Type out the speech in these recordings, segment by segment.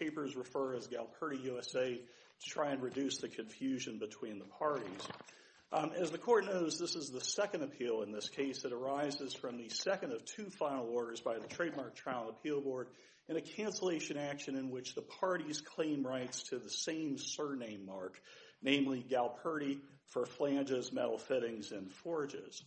As the court knows, this is the second appeal in this case that arises from the second of two final orders by the Trademark Trial and Appeal Board in a cancellation action in which the parties claim rights to the same surname mark, namely Galperti, for flanges, metal fittings, and forges.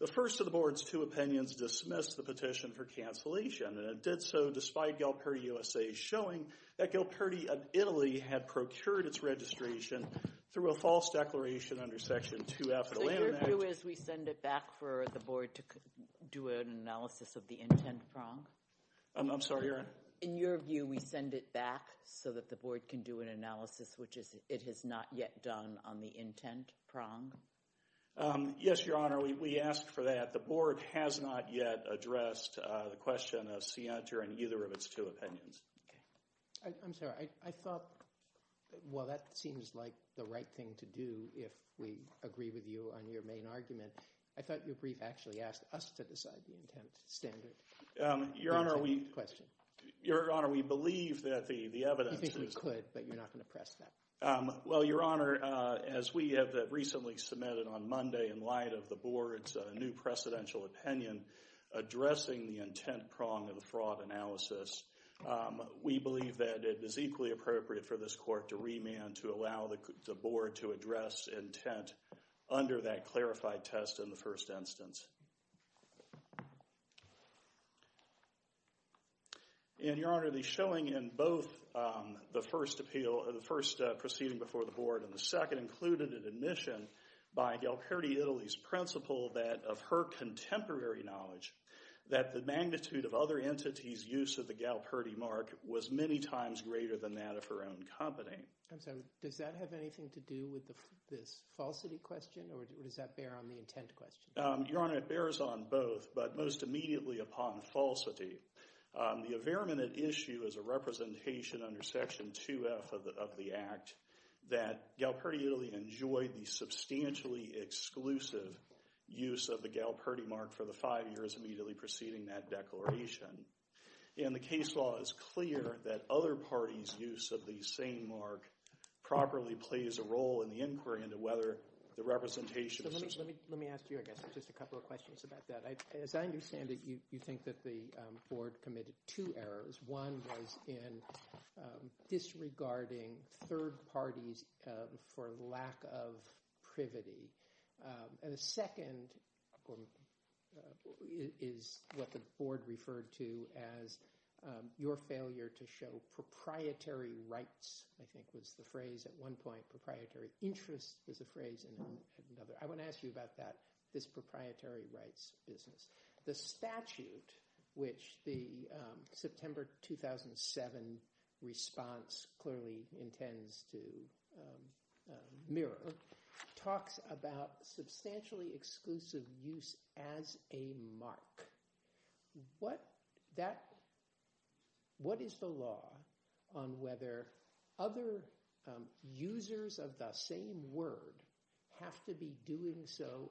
The first of the board's two opinions dismissed the petition for cancellation, and it did so despite Galperti, U.S.A.'s showing that Galperti, of Italy, had procured its registration through a false declaration under Section 2-F of the Land Act. So your view is we send it back for the board to do an analysis of the intent prong? I'm sorry, Your Honor? In your view, we send it back so that the board can do an analysis, which it has not yet done on the intent prong? Yes, Your Honor, we ask for that. The board has not yet addressed the question of scienter in either of its two opinions. Okay. I'm sorry. I thought, well, that seems like the right thing to do if we agree with you on your main argument. I thought your brief actually asked us to decide the intent standard. Your Honor, we believe that the evidence is— You think we could, but you're not going to press that? Well, Your Honor, as we have recently submitted on Monday in light of the board's new presidential opinion addressing the intent prong of the fraud analysis, we believe that it is equally appropriate for this court to remand to allow the board to address intent under that clarified test in the first instance. And, Your Honor, the showing in both the first appeal—the first proceeding before the board and the second included an admission by Galperdi-Italy's principal that, of her contemporary knowledge, that the magnitude of other entities' use of the Galperdi mark was many times greater than that of her own company. I'm sorry. Does that have anything to do with this falsity question, or does that bear on the intent question? Your Honor, it bears on both, but most immediately upon falsity. The evident issue is a representation under Section 2F of the Act that Galperdi-Italy enjoyed the substantially exclusive use of the Galperdi mark for the five years immediately preceding that declaration. And the case law is clear that other parties' use of the same mark properly plays a role in the inquiry into whether the representation— Let me ask you, I guess, just a couple of questions about that. As I understand it, you think that the board committed two errors. One was in disregarding third parties for lack of privity, and the second is what the board referred to as your failure to show proprietary rights, I think was the phrase at one point. Proprietary interests is a phrase at another. I want to ask you about that, this proprietary rights business. The statute, which the September 2007 response clearly intends to mirror, talks about substantially exclusive use as a mark. What is the law on whether other users of the same word have to be doing so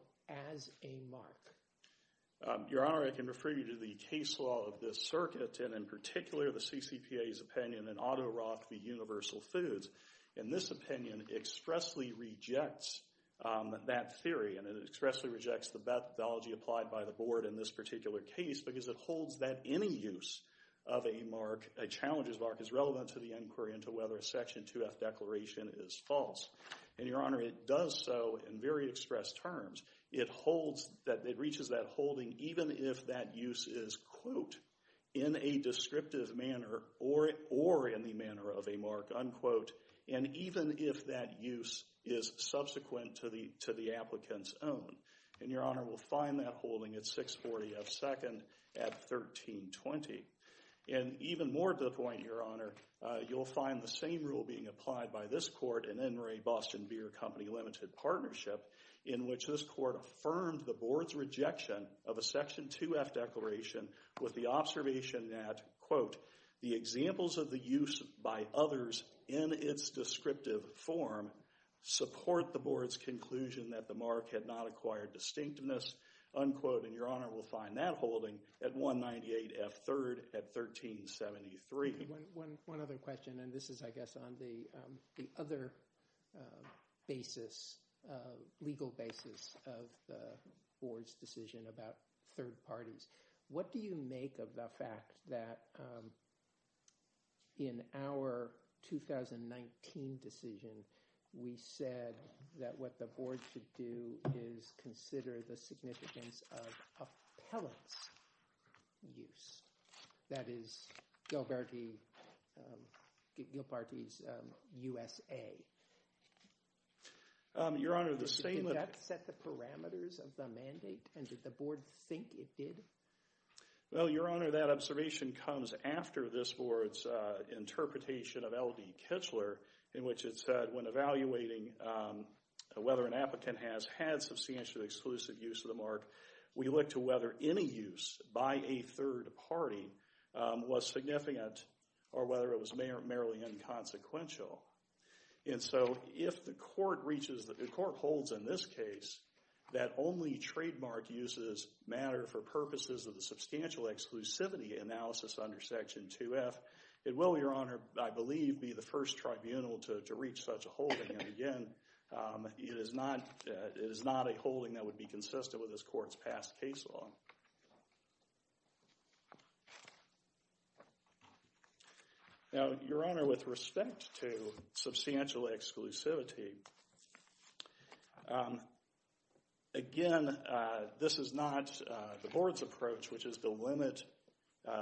as a mark? Your Honor, I can refer you to the case law of this circuit, and in particular the CCPA's opinion in Otto Roth v. Universal Foods. In this opinion, it expressly rejects that theory, and it expressly rejects the methodology applied by the board in this particular case because it holds that any use of a mark, a challenges mark, is relevant to the inquiry into whether a Section 2F declaration is false. Your Honor, it does so in very express terms. It holds that, it reaches that holding even if that use is, quote, in a descriptive manner or in the manner of a mark, unquote, and even if that use is subsequent to the applicant's own. And, Your Honor, we'll find that holding at 640 F. 2nd at 1320. And even more to the point, Your Honor, you'll find the same rule being applied by this court in N. Ray Boston Beer Company Limited Partnership in which this court affirmed the board's rejection of a Section 2F declaration with the observation that, quote, the examples of the use by others in its descriptive form support the board's conclusion that the mark had not acquired distinctiveness, unquote, and Your Honor, we'll find that holding at 198 F. 3rd at 1373. One other question, and this is, I guess, on the other basis, legal basis of the board's decision about third parties. What do you make of the fact that in our 2019 decision, we said that what the board should do is consider the significance of appellant's use, that is, Gilparte's USA? Your Honor, the same— And did the board think it did? Well, Your Honor, that observation comes after this board's interpretation of L. D. Kitchler in which it said when evaluating whether an applicant has had substantial exclusive use of the mark, we look to whether any use by a third party was significant or whether it was merely inconsequential. And so if the court holds in this case that only trademark uses matter for purposes of the substantial exclusivity analysis under Section 2F, it will, Your Honor, I believe, be the first tribunal to reach such a holding, and again, it is not a holding that would be consistent with this court's past case law. Now, Your Honor, with respect to substantial exclusivity, again, this is not the board's approach, which is to limit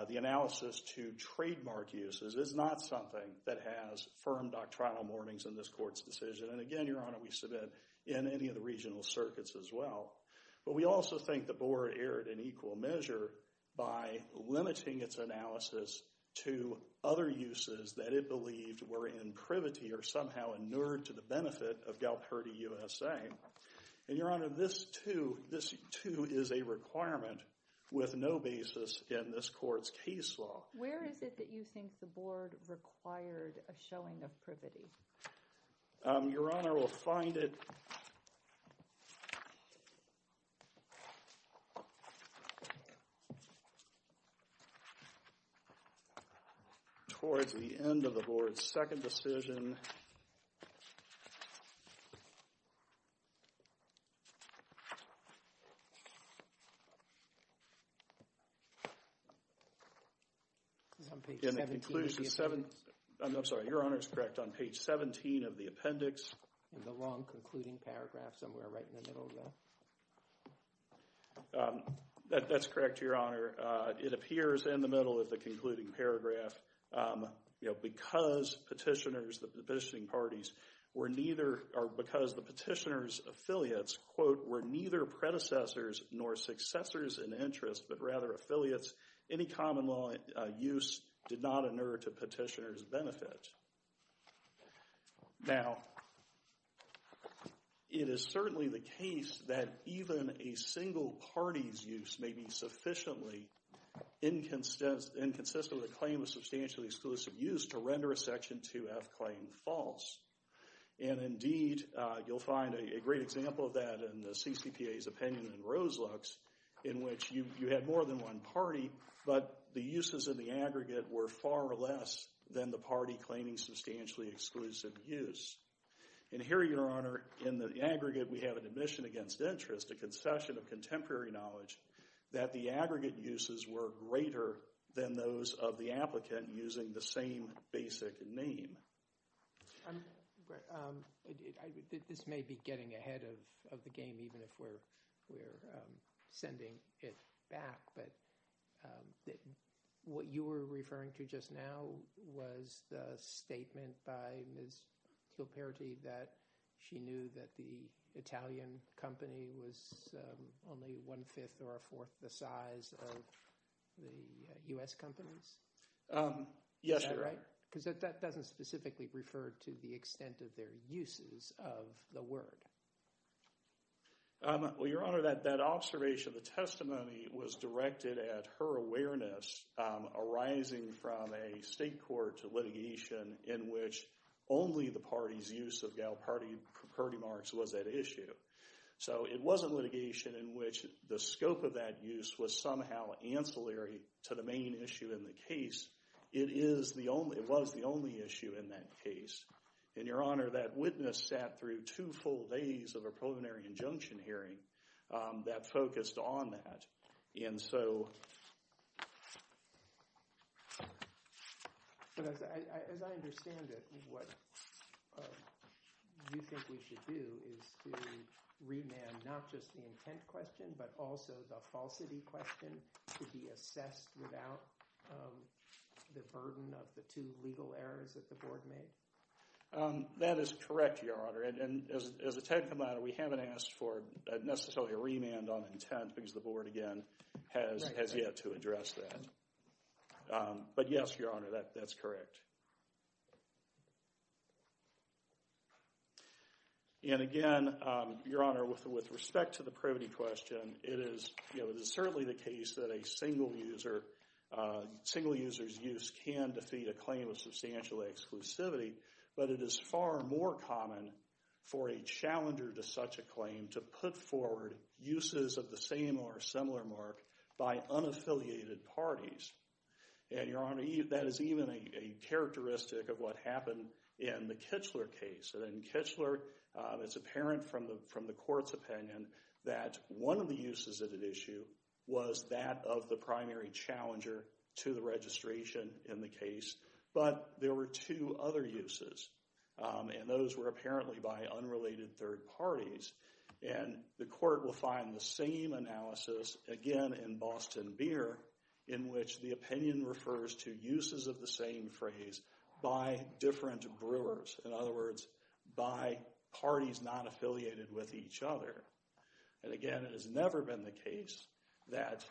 the analysis to trademark uses. It's not something that has firm doctrinal warnings in this court's decision, and again, Your Honor, we submit in any of the regional circuits as well. But we also think the board erred in equal measure by limiting its analysis to other uses that it believed were in privity or somehow inured to the benefit of Galperdi USA, and, Your Honor, this, too, is a requirement with no basis in this court's case law. Where is it that you think the board required a showing of privity? Your Honor, we'll find it towards the end of the board's second decision. I'm sorry, Your Honor, it's correct. On page 17 of the appendix, that's correct, Your Honor. It appears in the middle of the concluding paragraph. You know, because petitioners, the petitioning parties, were neither, or because the petitioner's affiliates, quote, were neither predecessors nor successors in interest, but rather affiliates, any common law use did not inure to petitioner's benefit. Now, it is certainly the case that even a single party's use may be sufficiently inconsistent with a claim of substantially exclusive use to render a Section 2F claim false. And, indeed, you'll find a great example of that in the CCPA's opinion in Roselux, in which you had more than one party, but the uses of the aggregate were far less than the party claiming substantially exclusive use. And here, Your Honor, in the aggregate, we have an admission against interest, a concession of contemporary knowledge, that the aggregate uses were greater than those of the applicant using the same basic name. This may be getting ahead of the game, even if we're sending it back, but what you were referring to just now was the statement by Ms. Kilperity that she knew that the Italian company was only one-fifth or a fourth the size of the U.S. companies? Yes, Your Honor. Is that right? Because that doesn't specifically refer to the extent of their uses of the word. Well, Your Honor, that observation, the testimony was directed at her awareness arising from a state court litigation in which only the party's use of gal party marks was at issue. So it wasn't litigation in which the scope of that use was somehow ancillary to the main issue in the case. It was the only issue in that case. And, Your Honor, that witness sat through two full days of a preliminary injunction hearing that focused on that. And so... But as I understand it, what you think we should do is to remand not just the intent question but also the falsity question to be assessed without the burden of the two legal errors that the board made? That is correct, Your Honor. And as a technical matter, we haven't asked for necessarily a remand on intent because the board, again, has yet to address that. But yes, Your Honor, that's correct. And again, Your Honor, with respect to the privity question, it is certainly the case that a single user's use can defeat a claim of substantial exclusivity. But it is far more common for a challenger to such a claim to put forward uses of the same or similar mark by unaffiliated parties. And, Your Honor, that is even a characteristic of what happened in the Kichler case. And in Kichler, it's apparent from the court's opinion that one of the uses of the issue was that of the primary challenger to the registration in the case. But there were two other uses, and those were apparently by unrelated third parties. And the court will find the same analysis, again, in Boston Beer, in which the opinion refers to uses of the same phrase by different brewers. In other words, by parties not affiliated with each other. And again, it has never been the case that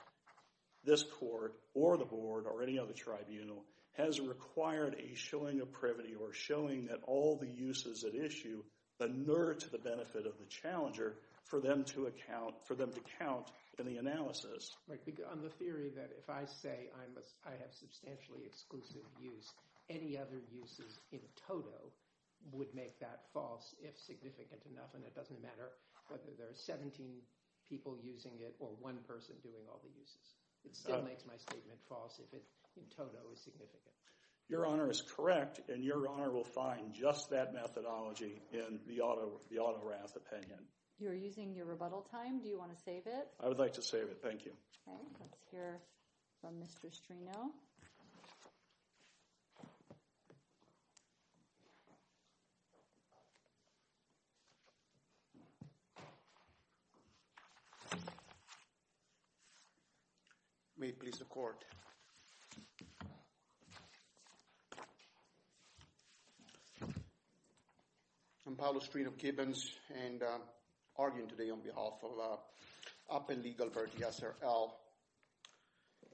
this court or the board or any other tribunal has required a showing of privity or showing that all the uses at issue inert the benefit of the challenger for them to account, for them to count in the analysis. Right. On the theory that if I say I have substantially exclusive use, any other uses in toto would make that false if significant enough, and it doesn't matter whether there are 17 people using it or one person doing all the uses. It still makes my statement false if it in toto is significant. Your honor is correct, and your honor will find just that methodology in the auto wrath opinion. You're using your rebuttal time. Do you want to save it? I would like to save it. Thank you. All right. Let's hear from Mr. Strino. May it please the court. I'm Paolo Strino-Kibbins, and I'm arguing today on behalf of UP and Legal Verge SRL.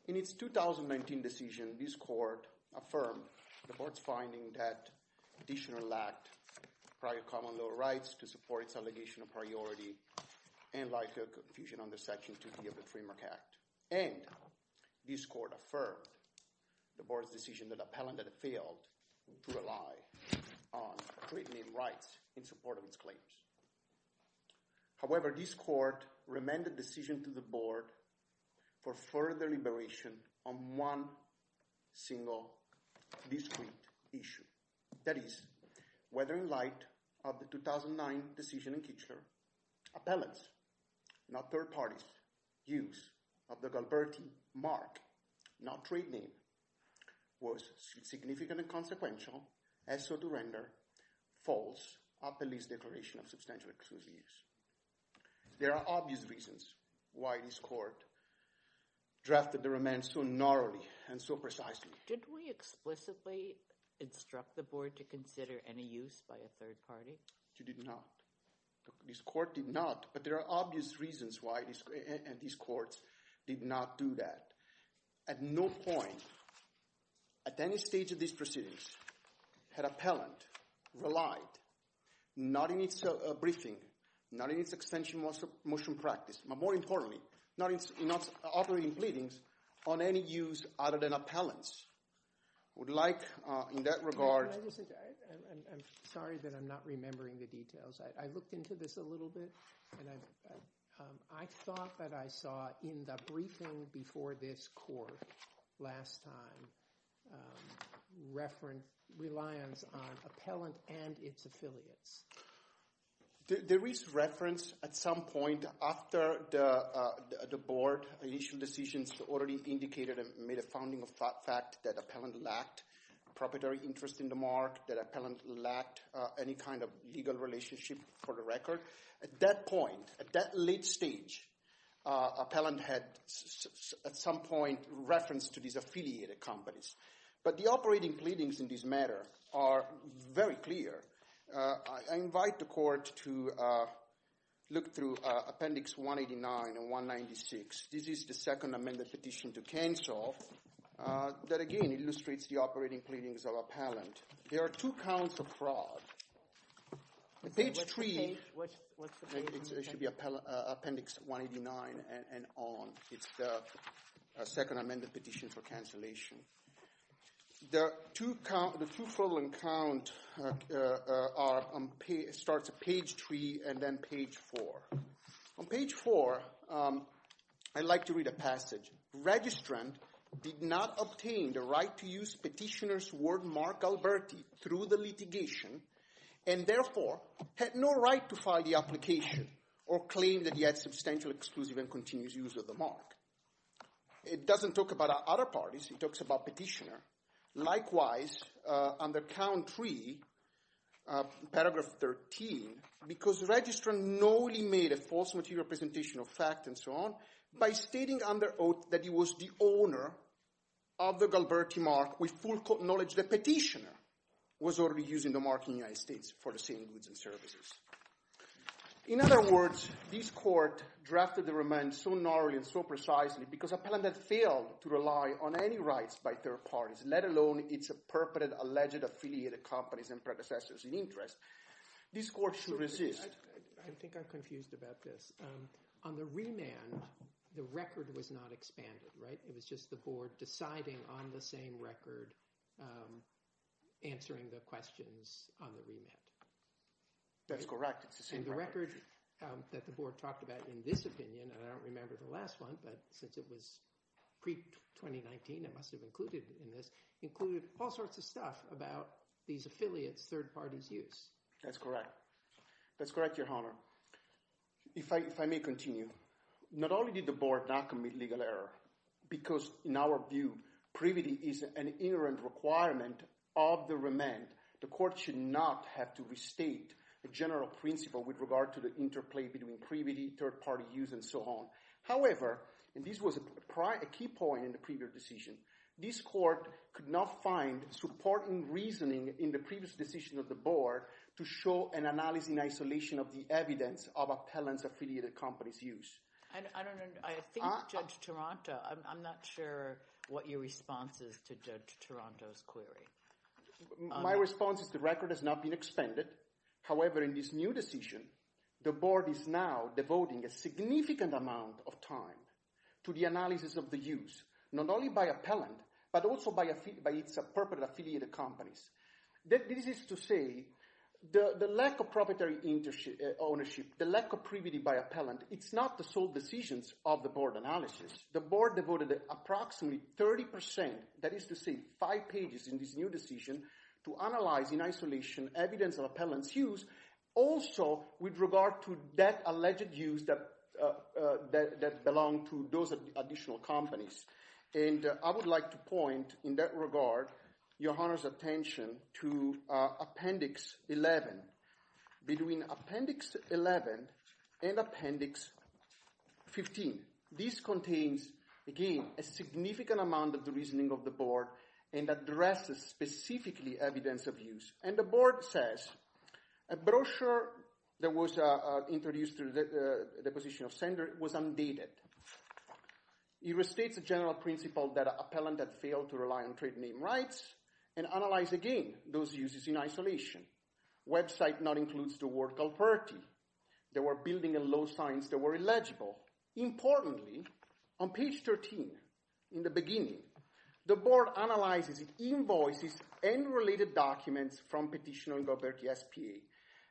In its 2019 decision, this court affirmed the board's finding that the additional act prior common law rights to support its allegation of priority and likely confusion on the section 2B of the Framework Act, and this court affirmed the board's decision that appellant had failed to rely on written in rights in support of its claims. However, this court remanded decision to the board for further deliberation on one single discrete issue, that is, whether in light of the 2009 decision in Kichler, appellants, not third parties, use of the Galberti mark, not trade name, was significant and consequential as so to render false a police declaration of substantial excuse use. There are obvious reasons why this court drafted the remand so gnarly and so precisely. Did we explicitly instruct the board to consider any use by a third party? You did not. This court did not, but there are obvious reasons why this court did not do that. At no point, at any stage of this proceedings, had appellant relied, not in its briefing, not in its extension motion practice, but more importantly, not in its operating pleadings, on any use other than appellant's. Would like, in that regard- I'm sorry that I'm not remembering the details. I looked into this a little bit, and I thought that I saw in the briefing before this court last time, reference, reliance on appellant and its affiliates. There is reference at some point after the board issued decisions already indicated and made a founding fact that appellant lacked proprietary interest in the mark, that appellant lacked any kind of legal relationship for the record. At that point, at that late stage, appellant had, at some point, referenced to these affiliated companies. But the operating pleadings in this matter are very clear. I invite the court to look through Appendix 189 and 196. This is the second amended petition to cancel that, again, illustrates the operating pleadings of appellant. There are two counts of fraud. The page three- What's the page? It should be Appendix 189 and on. It's the second amended petition for cancellation. The two fraudulent count starts at page three and then page four. On page four, I'd like to read a passage. Registrant did not obtain the right to use petitioner's wordmark Alberti through the litigation and, therefore, had no right to file the application or claim that he had substantial exclusive and continuous use of the mark. It doesn't talk about other parties, it talks about petitioner. Likewise, on the count three, paragraph 13, because registrant knowingly made a false material presentation of fact and so on, by stating under oath that he was the owner of the Galberti mark with full knowledge the petitioner was already using the mark in the United States for the same goods and services. In other words, this court drafted the remand so gnarly and so precisely because appellant had failed to rely on any rights by third parties, let alone its perpetrated alleged affiliated companies and predecessors in interest. This court should resist. I think I'm confused about this. On the remand, the record was not expanded, right? It was just the board deciding on the same record, answering the questions on the remand. That's correct. It's the same record. And the record that the board talked about in this opinion, and I don't remember the pre-2019, it must have included in this, included all sorts of stuff about these affiliates' third parties' use. That's correct. That's correct, Your Honor. If I may continue, not only did the board not commit legal error, because in our view, privity is an inherent requirement of the remand, the court should not have to restate a general principle with regard to the interplay between privity, third party use, and so on. However, and this was a key point in the previous decision, this court could not find supporting reasoning in the previous decision of the board to show an analysis in isolation of the evidence of appellants' affiliated companies' use. I think Judge Taranto, I'm not sure what your response is to Judge Taranto's query. My response is the record has not been expanded, however, in this new decision, the board is now devoting a significant amount of time to the analysis of the use, not only by appellant, but also by its appropriate affiliated companies. This is to say, the lack of proprietary ownership, the lack of privity by appellant, it's not the sole decisions of the board analysis. The board devoted approximately 30%, that is to say five pages in this new decision, to analyze in isolation evidence of appellants' use, also with regard to that alleged use that belonged to those additional companies. And I would like to point in that regard, your Honor's attention to Appendix 11, between Appendix 11 and Appendix 15. This contains, again, a significant amount of the reasoning of the board and addresses specifically evidence of use. And the board says, a brochure that was introduced through the position of sender was undated. It restates the general principle that appellant had failed to rely on trade name rights and analyze again those uses in isolation. Website not includes the word culprity. There were building and low signs that were illegible. Importantly, on page 13, in the beginning, the board analyzes invoices and related documents from Petitioner and Galberti SPA.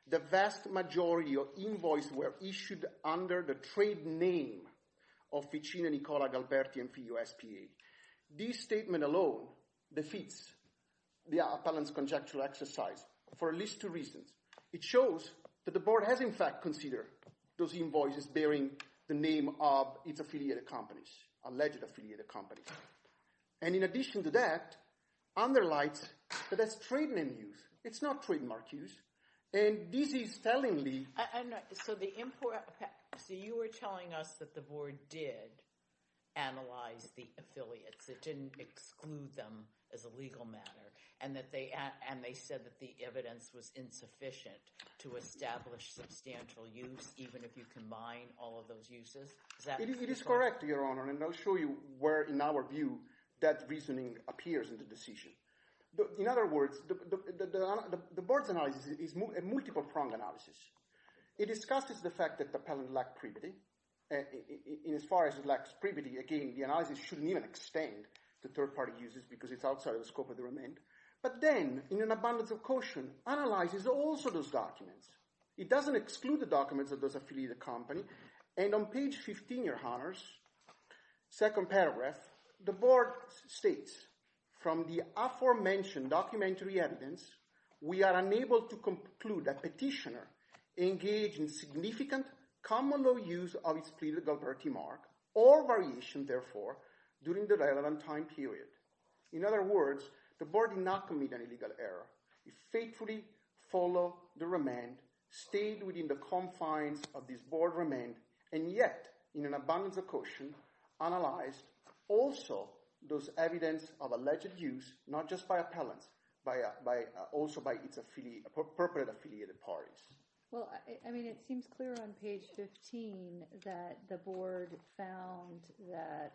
The vast majority of invoices were issued under the trade name of Ficino, Nicola, Galberti and Figo SPA. This statement alone defeats the appellant's conjectural exercise for at least two reasons. It shows that the board has, in fact, considered those invoices bearing the name of its affiliated companies, alleged affiliated companies. And in addition to that, underlines that that's trade name use. It's not trademark use. And this is tellingly... I'm not... So the import... Okay. So you were telling us that the board did analyze the affiliates, it didn't exclude them as a legal matter, and they said that the evidence was insufficient to establish substantial use, even if you combine all of those uses? Is that... It is correct, Your Honor, and I'll show you where, in our view, that reasoning appears in the decision. In other words, the board's analysis is a multiple-pronged analysis. It discusses the fact that the appellant lacked privity. And as far as it lacks privity, again, the analysis shouldn't even extend to third-party uses because it's outside of the scope of the remand. But then, in an abundance of caution, analyzes also those documents. It doesn't exclude the documents of those affiliated companies. And on page 15, Your Honors, second paragraph, the board states, from the aforementioned documentary evidence, we are unable to conclude that petitioner engaged in significant common legal use of his pleaded guilty mark or variation, therefore, during the relevant time period. In other words, the board did not commit an illegal error. It faithfully followed the remand, stayed within the confines of this board remand, and yet, in an abundance of caution, analyzed also those evidence of alleged use, not just by appellants, but also by its appropriate affiliated parties. Well, I mean, it seems clear on page 15 that the board found that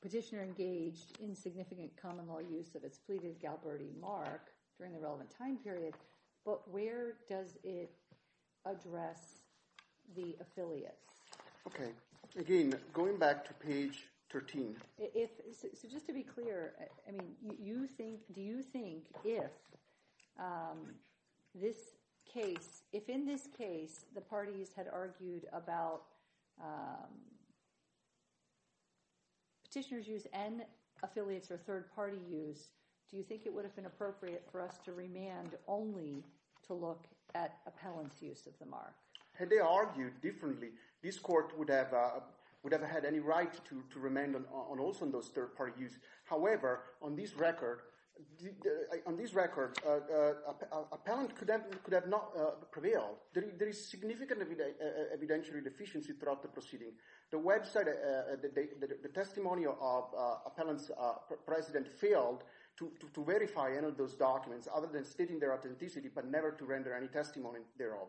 petitioner engaged in significant common law use of his pleaded guilty mark during the relevant time period. But where does it address the affiliates? Okay. Again, going back to page 13. So just to be clear, I mean, do you think if this case, if in this case, the parties had argued about petitioner's use and affiliates or third party use, do you think it would have been appropriate for us to remand only to look at appellant's use of the mark? Had they argued differently, this court would have had any right to remand on those third party use. However, on this record, appellant could have not prevailed. There is significant evidentiary deficiency throughout the proceeding. The website, the testimony of appellant's president failed to verify any of those documents other than stating their authenticity, but never to render any testimony thereof.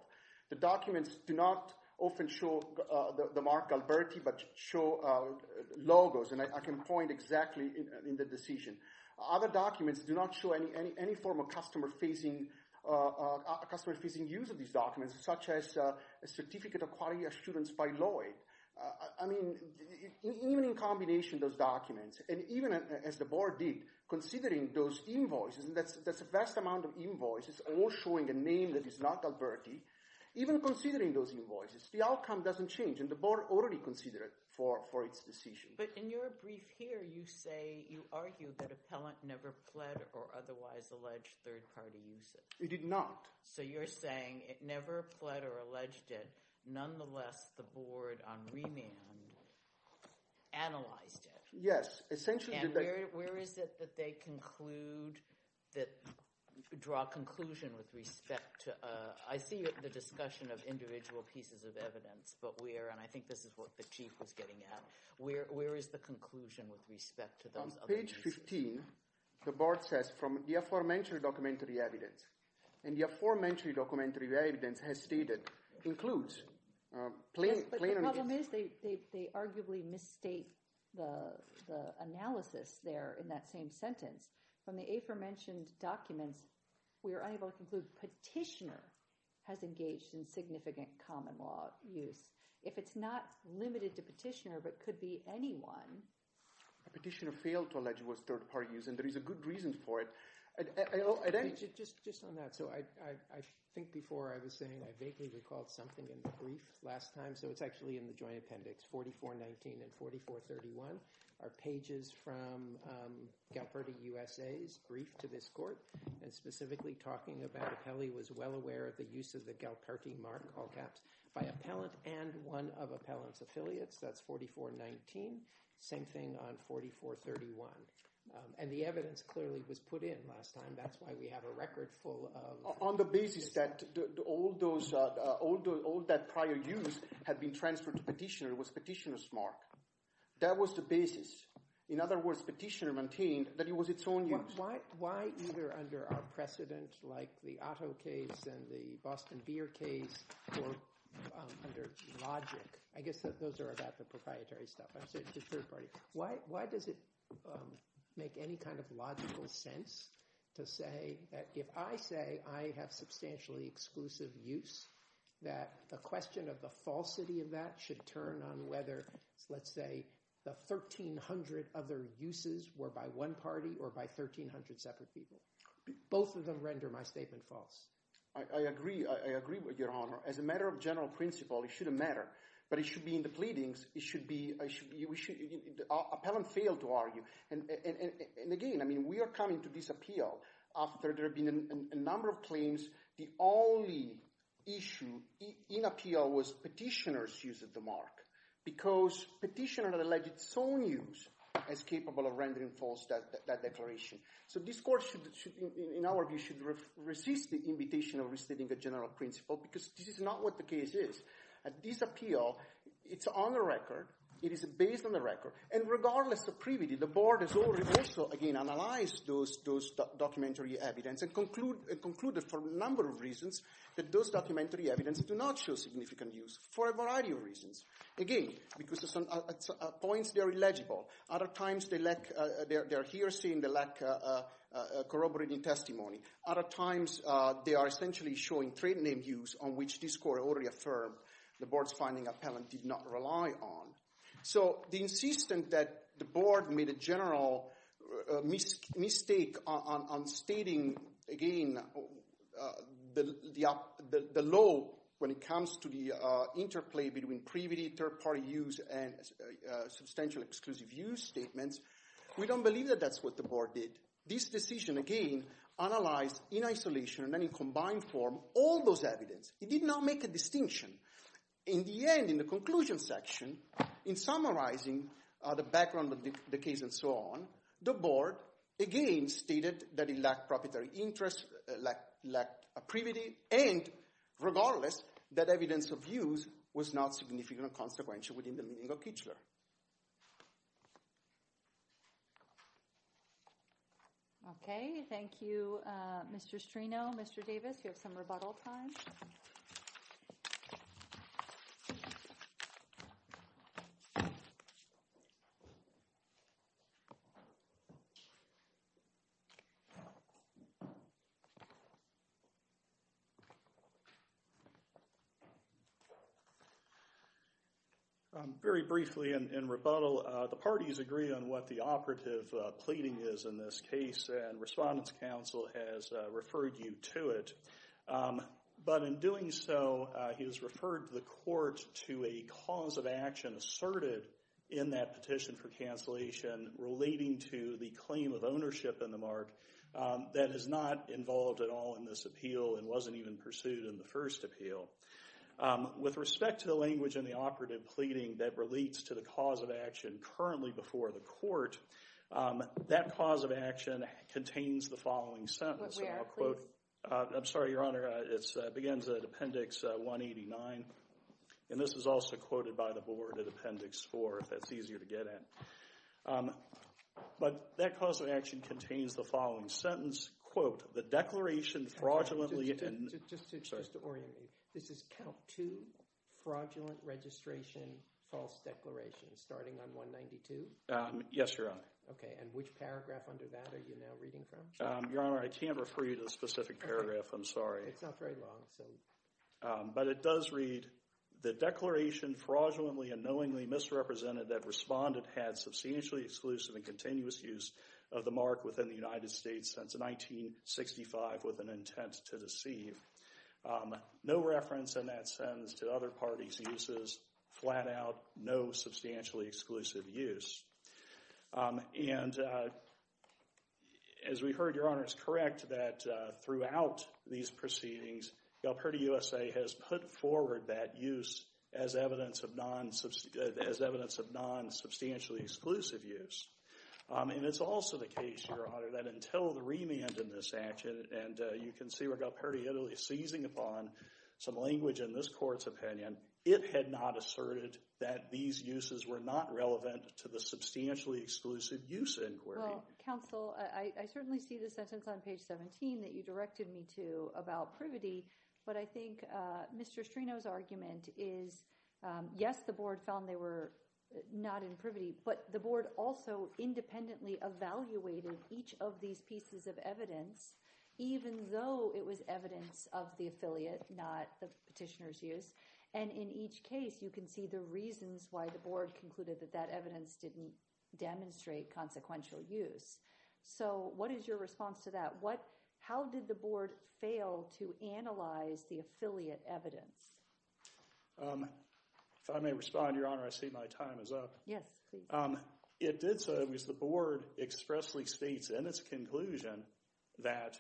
The documents do not often show the mark Galberti, but show logos. And I can point exactly in the decision. Other documents do not show any form of customer-facing use of these documents, such as a certificate of quality assurance by Lloyd. I mean, even in combination, those documents, and even as the board did, considering those invoices, and that's a vast amount of invoices, all showing a name that is not Galberti. Even considering those invoices, the outcome doesn't change, and the board already considered for its decision. But in your brief here, you say, you argue that appellant never pled or otherwise alleged third party usage. He did not. So you're saying it never pled or alleged it, nonetheless, the board on remand analyzed it. Yes, essentially. And where is it that they conclude that, draw a conclusion with respect to, I see the discussion of individual pieces of evidence, but where, and I think this is what the chief was getting at, where is the conclusion with respect to those other pieces? On page 15, the board says, from the aforementioned documentary evidence, and the aforementioned documentary evidence has stated, includes plaintiff. Yes, but the problem is, they arguably misstate the analysis there in that same sentence. From the aforementioned documents, we are unable to conclude petitioner has engaged in significant common law use. If it's not limited to petitioner, but could be anyone. Petitioner failed to allege it was third party use, and there is a good reason for it. Just on that, so I think before I was saying, I vaguely recalled something in the brief last time, so it's actually in the joint appendix, 4419 and 4431, are pages from Galperti USA's brief to this court, and specifically talking about how he was well aware of the use of the Galperti mark, all caps, by appellant and one of appellant's affiliates, that's 4419, same thing on 4431. And the evidence clearly was put in last time, that's why we have a record full of- On the basis that all that prior use had been transferred to petitioner, it was petitioner's mark. That was the basis. In other words, petitioner maintained that it was its own use. Why either under our precedent, like the Otto case and the Boston Beer case, or under logic, I guess those are about the proprietary stuff, I'm sorry, it's the third party, why does it make any kind of logical sense to say that if I say I have substantially exclusive use, that the question of the falsity of that should turn on whether, let's say, the 1300 other separate people, both of them render my statement false? I agree, I agree with your honor. As a matter of general principle, it shouldn't matter, but it should be in the pleadings, it should be, appellant failed to argue. And again, I mean, we are coming to this appeal after there have been a number of claims, the only issue in appeal was petitioner's use of the mark, because petitioner alleged that its own use is capable of rendering false that declaration. So this court should, in our view, should resist the invitation of restating the general principle, because this is not what the case is. This appeal, it's on the record, it is based on the record, and regardless of privity, the board has already also, again, analyzed those documentary evidence and concluded for a number of reasons that those documentary evidence do not show significant use, for a variety of reasons. Again, because at some points they are illegible, other times they lack, they are hearsay and they lack corroborating testimony, other times they are essentially showing trade name use on which this court already affirmed the board's finding appellant did not rely on. So the insistence that the board made a general mistake on stating, again, the law when it comes to the interplay between privity, third-party use, and substantial exclusive use statements, we don't believe that that's what the board did. This decision, again, analyzed in isolation and then in combined form all those evidence. It did not make a distinction. In the end, in the conclusion section, in summarizing the background of the case and so on, the board, again, stated that it lacked proprietary interest, it lacked privity, and regardless, that evidence of use was not significant or consequential within the meaning of Kichler. Okay, thank you, Mr. Strino. Mr. Davis, you have some rebuttal time. Very briefly in rebuttal, the parties agree on what the operative pleading is in this case, and Respondent's Counsel has referred you to it. But in doing so, he has referred the court to a cause of action asserted in that petition for cancellation relating to the claim of ownership in the mark that is not involved at all in this appeal and wasn't even pursued in the first appeal. With respect to the language in the operative pleading that relates to the cause of action currently before the court, that cause of action contains the following sentence. I'm sorry, Your Honor, it begins at Appendix 189, and this is also quoted by the board at Appendix 4, if that's easier to get at. But that cause of action contains the following sentence, quote, the declaration fraudulently in— Just to orient you, this is Count 2, fraudulent registration, false declaration, starting on 192? Yes, Your Honor. Okay, and which paragraph under that are you now reading from? Your Honor, I can't refer you to the specific paragraph, I'm sorry. It's not very long, so— But it does read, the declaration fraudulently and knowingly misrepresented that Respondent had substantially exclusive and continuous use of the mark within the United States since 1965 with an intent to deceive. No reference in that sentence to other parties' uses. Flat out, no substantially exclusive use. And as we heard, Your Honor, it's correct that throughout these proceedings, Galperdi USA has put forward that use as evidence of non-substantially exclusive use. And it's also the case, Your Honor, that until the remand in this action, and you can see where Galperdi Italy is seizing upon some language in this court's opinion, it had not asserted that these uses were not relevant to the substantially exclusive use inquiry. Well, counsel, I certainly see the sentence on page 17 that you directed me to about privity, but I think Mr. Strino's argument is, yes, the board found they were not in privity, but the board also independently evaluated each of these pieces of evidence even though it was evidence of the affiliate, not the petitioner's use. And in each case, you can see the reasons why the board concluded that that evidence didn't demonstrate consequential use. So what is your response to that? How did the board fail to analyze the affiliate evidence? If I may respond, Your Honor, I see my time is up. Yes, please. It did so because the board expressly states in its conclusion that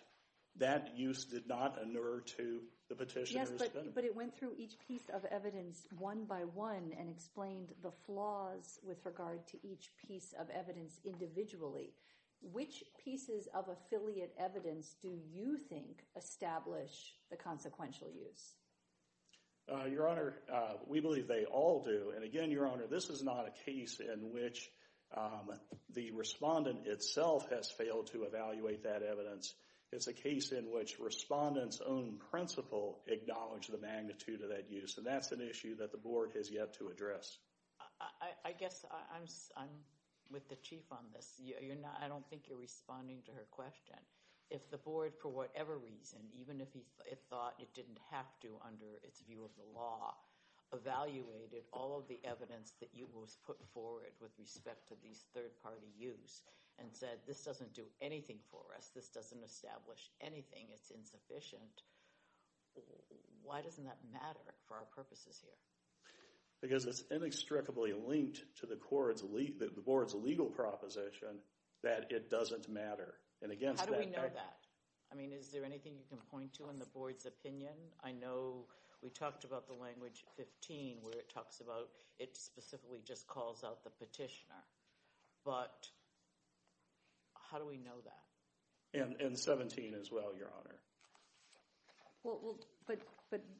that use did not inure to the petitioner's benefit. But it went through each piece of evidence one by one and explained the flaws with regard to each piece of evidence individually. Which pieces of affiliate evidence do you think establish the consequential use? Your Honor, we believe they all do. And again, Your Honor, this is not a case in which the respondent itself has failed to evaluate that evidence. It's a case in which respondents' own principle acknowledge the magnitude of that use, and that's an issue that the board has yet to address. I guess I'm with the chief on this. I don't think you're responding to her question. If the board, for whatever reason, even if it thought it didn't have to under its view of the law, evaluated all of the evidence that was put forward with respect to these third-party use and said this doesn't do anything for us, this doesn't establish anything, it's insufficient, why doesn't that matter for our purposes here? Because it's inextricably linked to the board's legal proposition that it doesn't matter. How do we know that? I mean, is there anything you can point to in the board's opinion? I know we talked about the language 15 where it talks about it specifically just calls out the petitioner. But how do we know that? And 17 as well, Your Honor. Well, but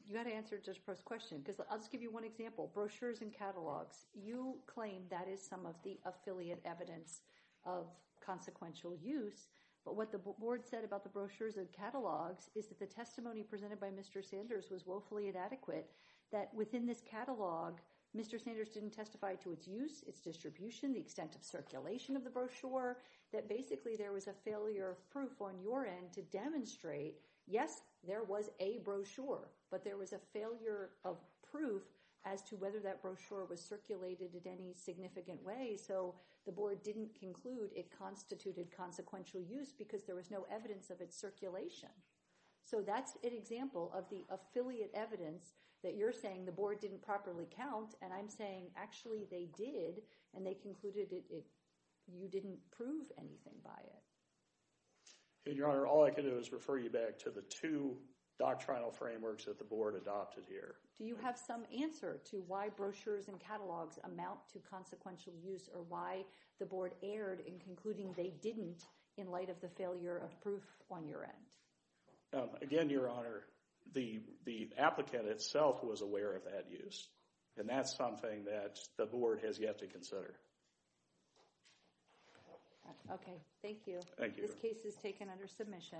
you had to answer Judge Proffitt's question. I'll just give you one example, brochures and catalogs. You claim that is some of the affiliate evidence of consequential use. But what the board said about the brochures and catalogs is that the testimony presented by Mr. Sanders was woefully inadequate, that within this catalog Mr. Sanders didn't testify to its use, its distribution, the extent of circulation of the brochure, that basically there was a failure of proof on your end to demonstrate, yes, there was a brochure, but there was a failure of proof as to whether that brochure was circulated in any significant way. So the board didn't conclude it constituted consequential use because there was no evidence of its circulation. So that's an example of the affiliate evidence that you're saying the board didn't properly count. And I'm saying actually they did, and they concluded you didn't prove anything by it. Your Honor, all I can do is refer you back to the two doctrinal frameworks that the board adopted here. Do you have some answer to why brochures and catalogs amount to consequential use or why the board erred in concluding they didn't in light of the failure of proof on your end? Again, Your Honor, the applicant itself was aware of that use. And that's something that the board has yet to consider. Okay, thank you. Thank you. This case is taken under submission.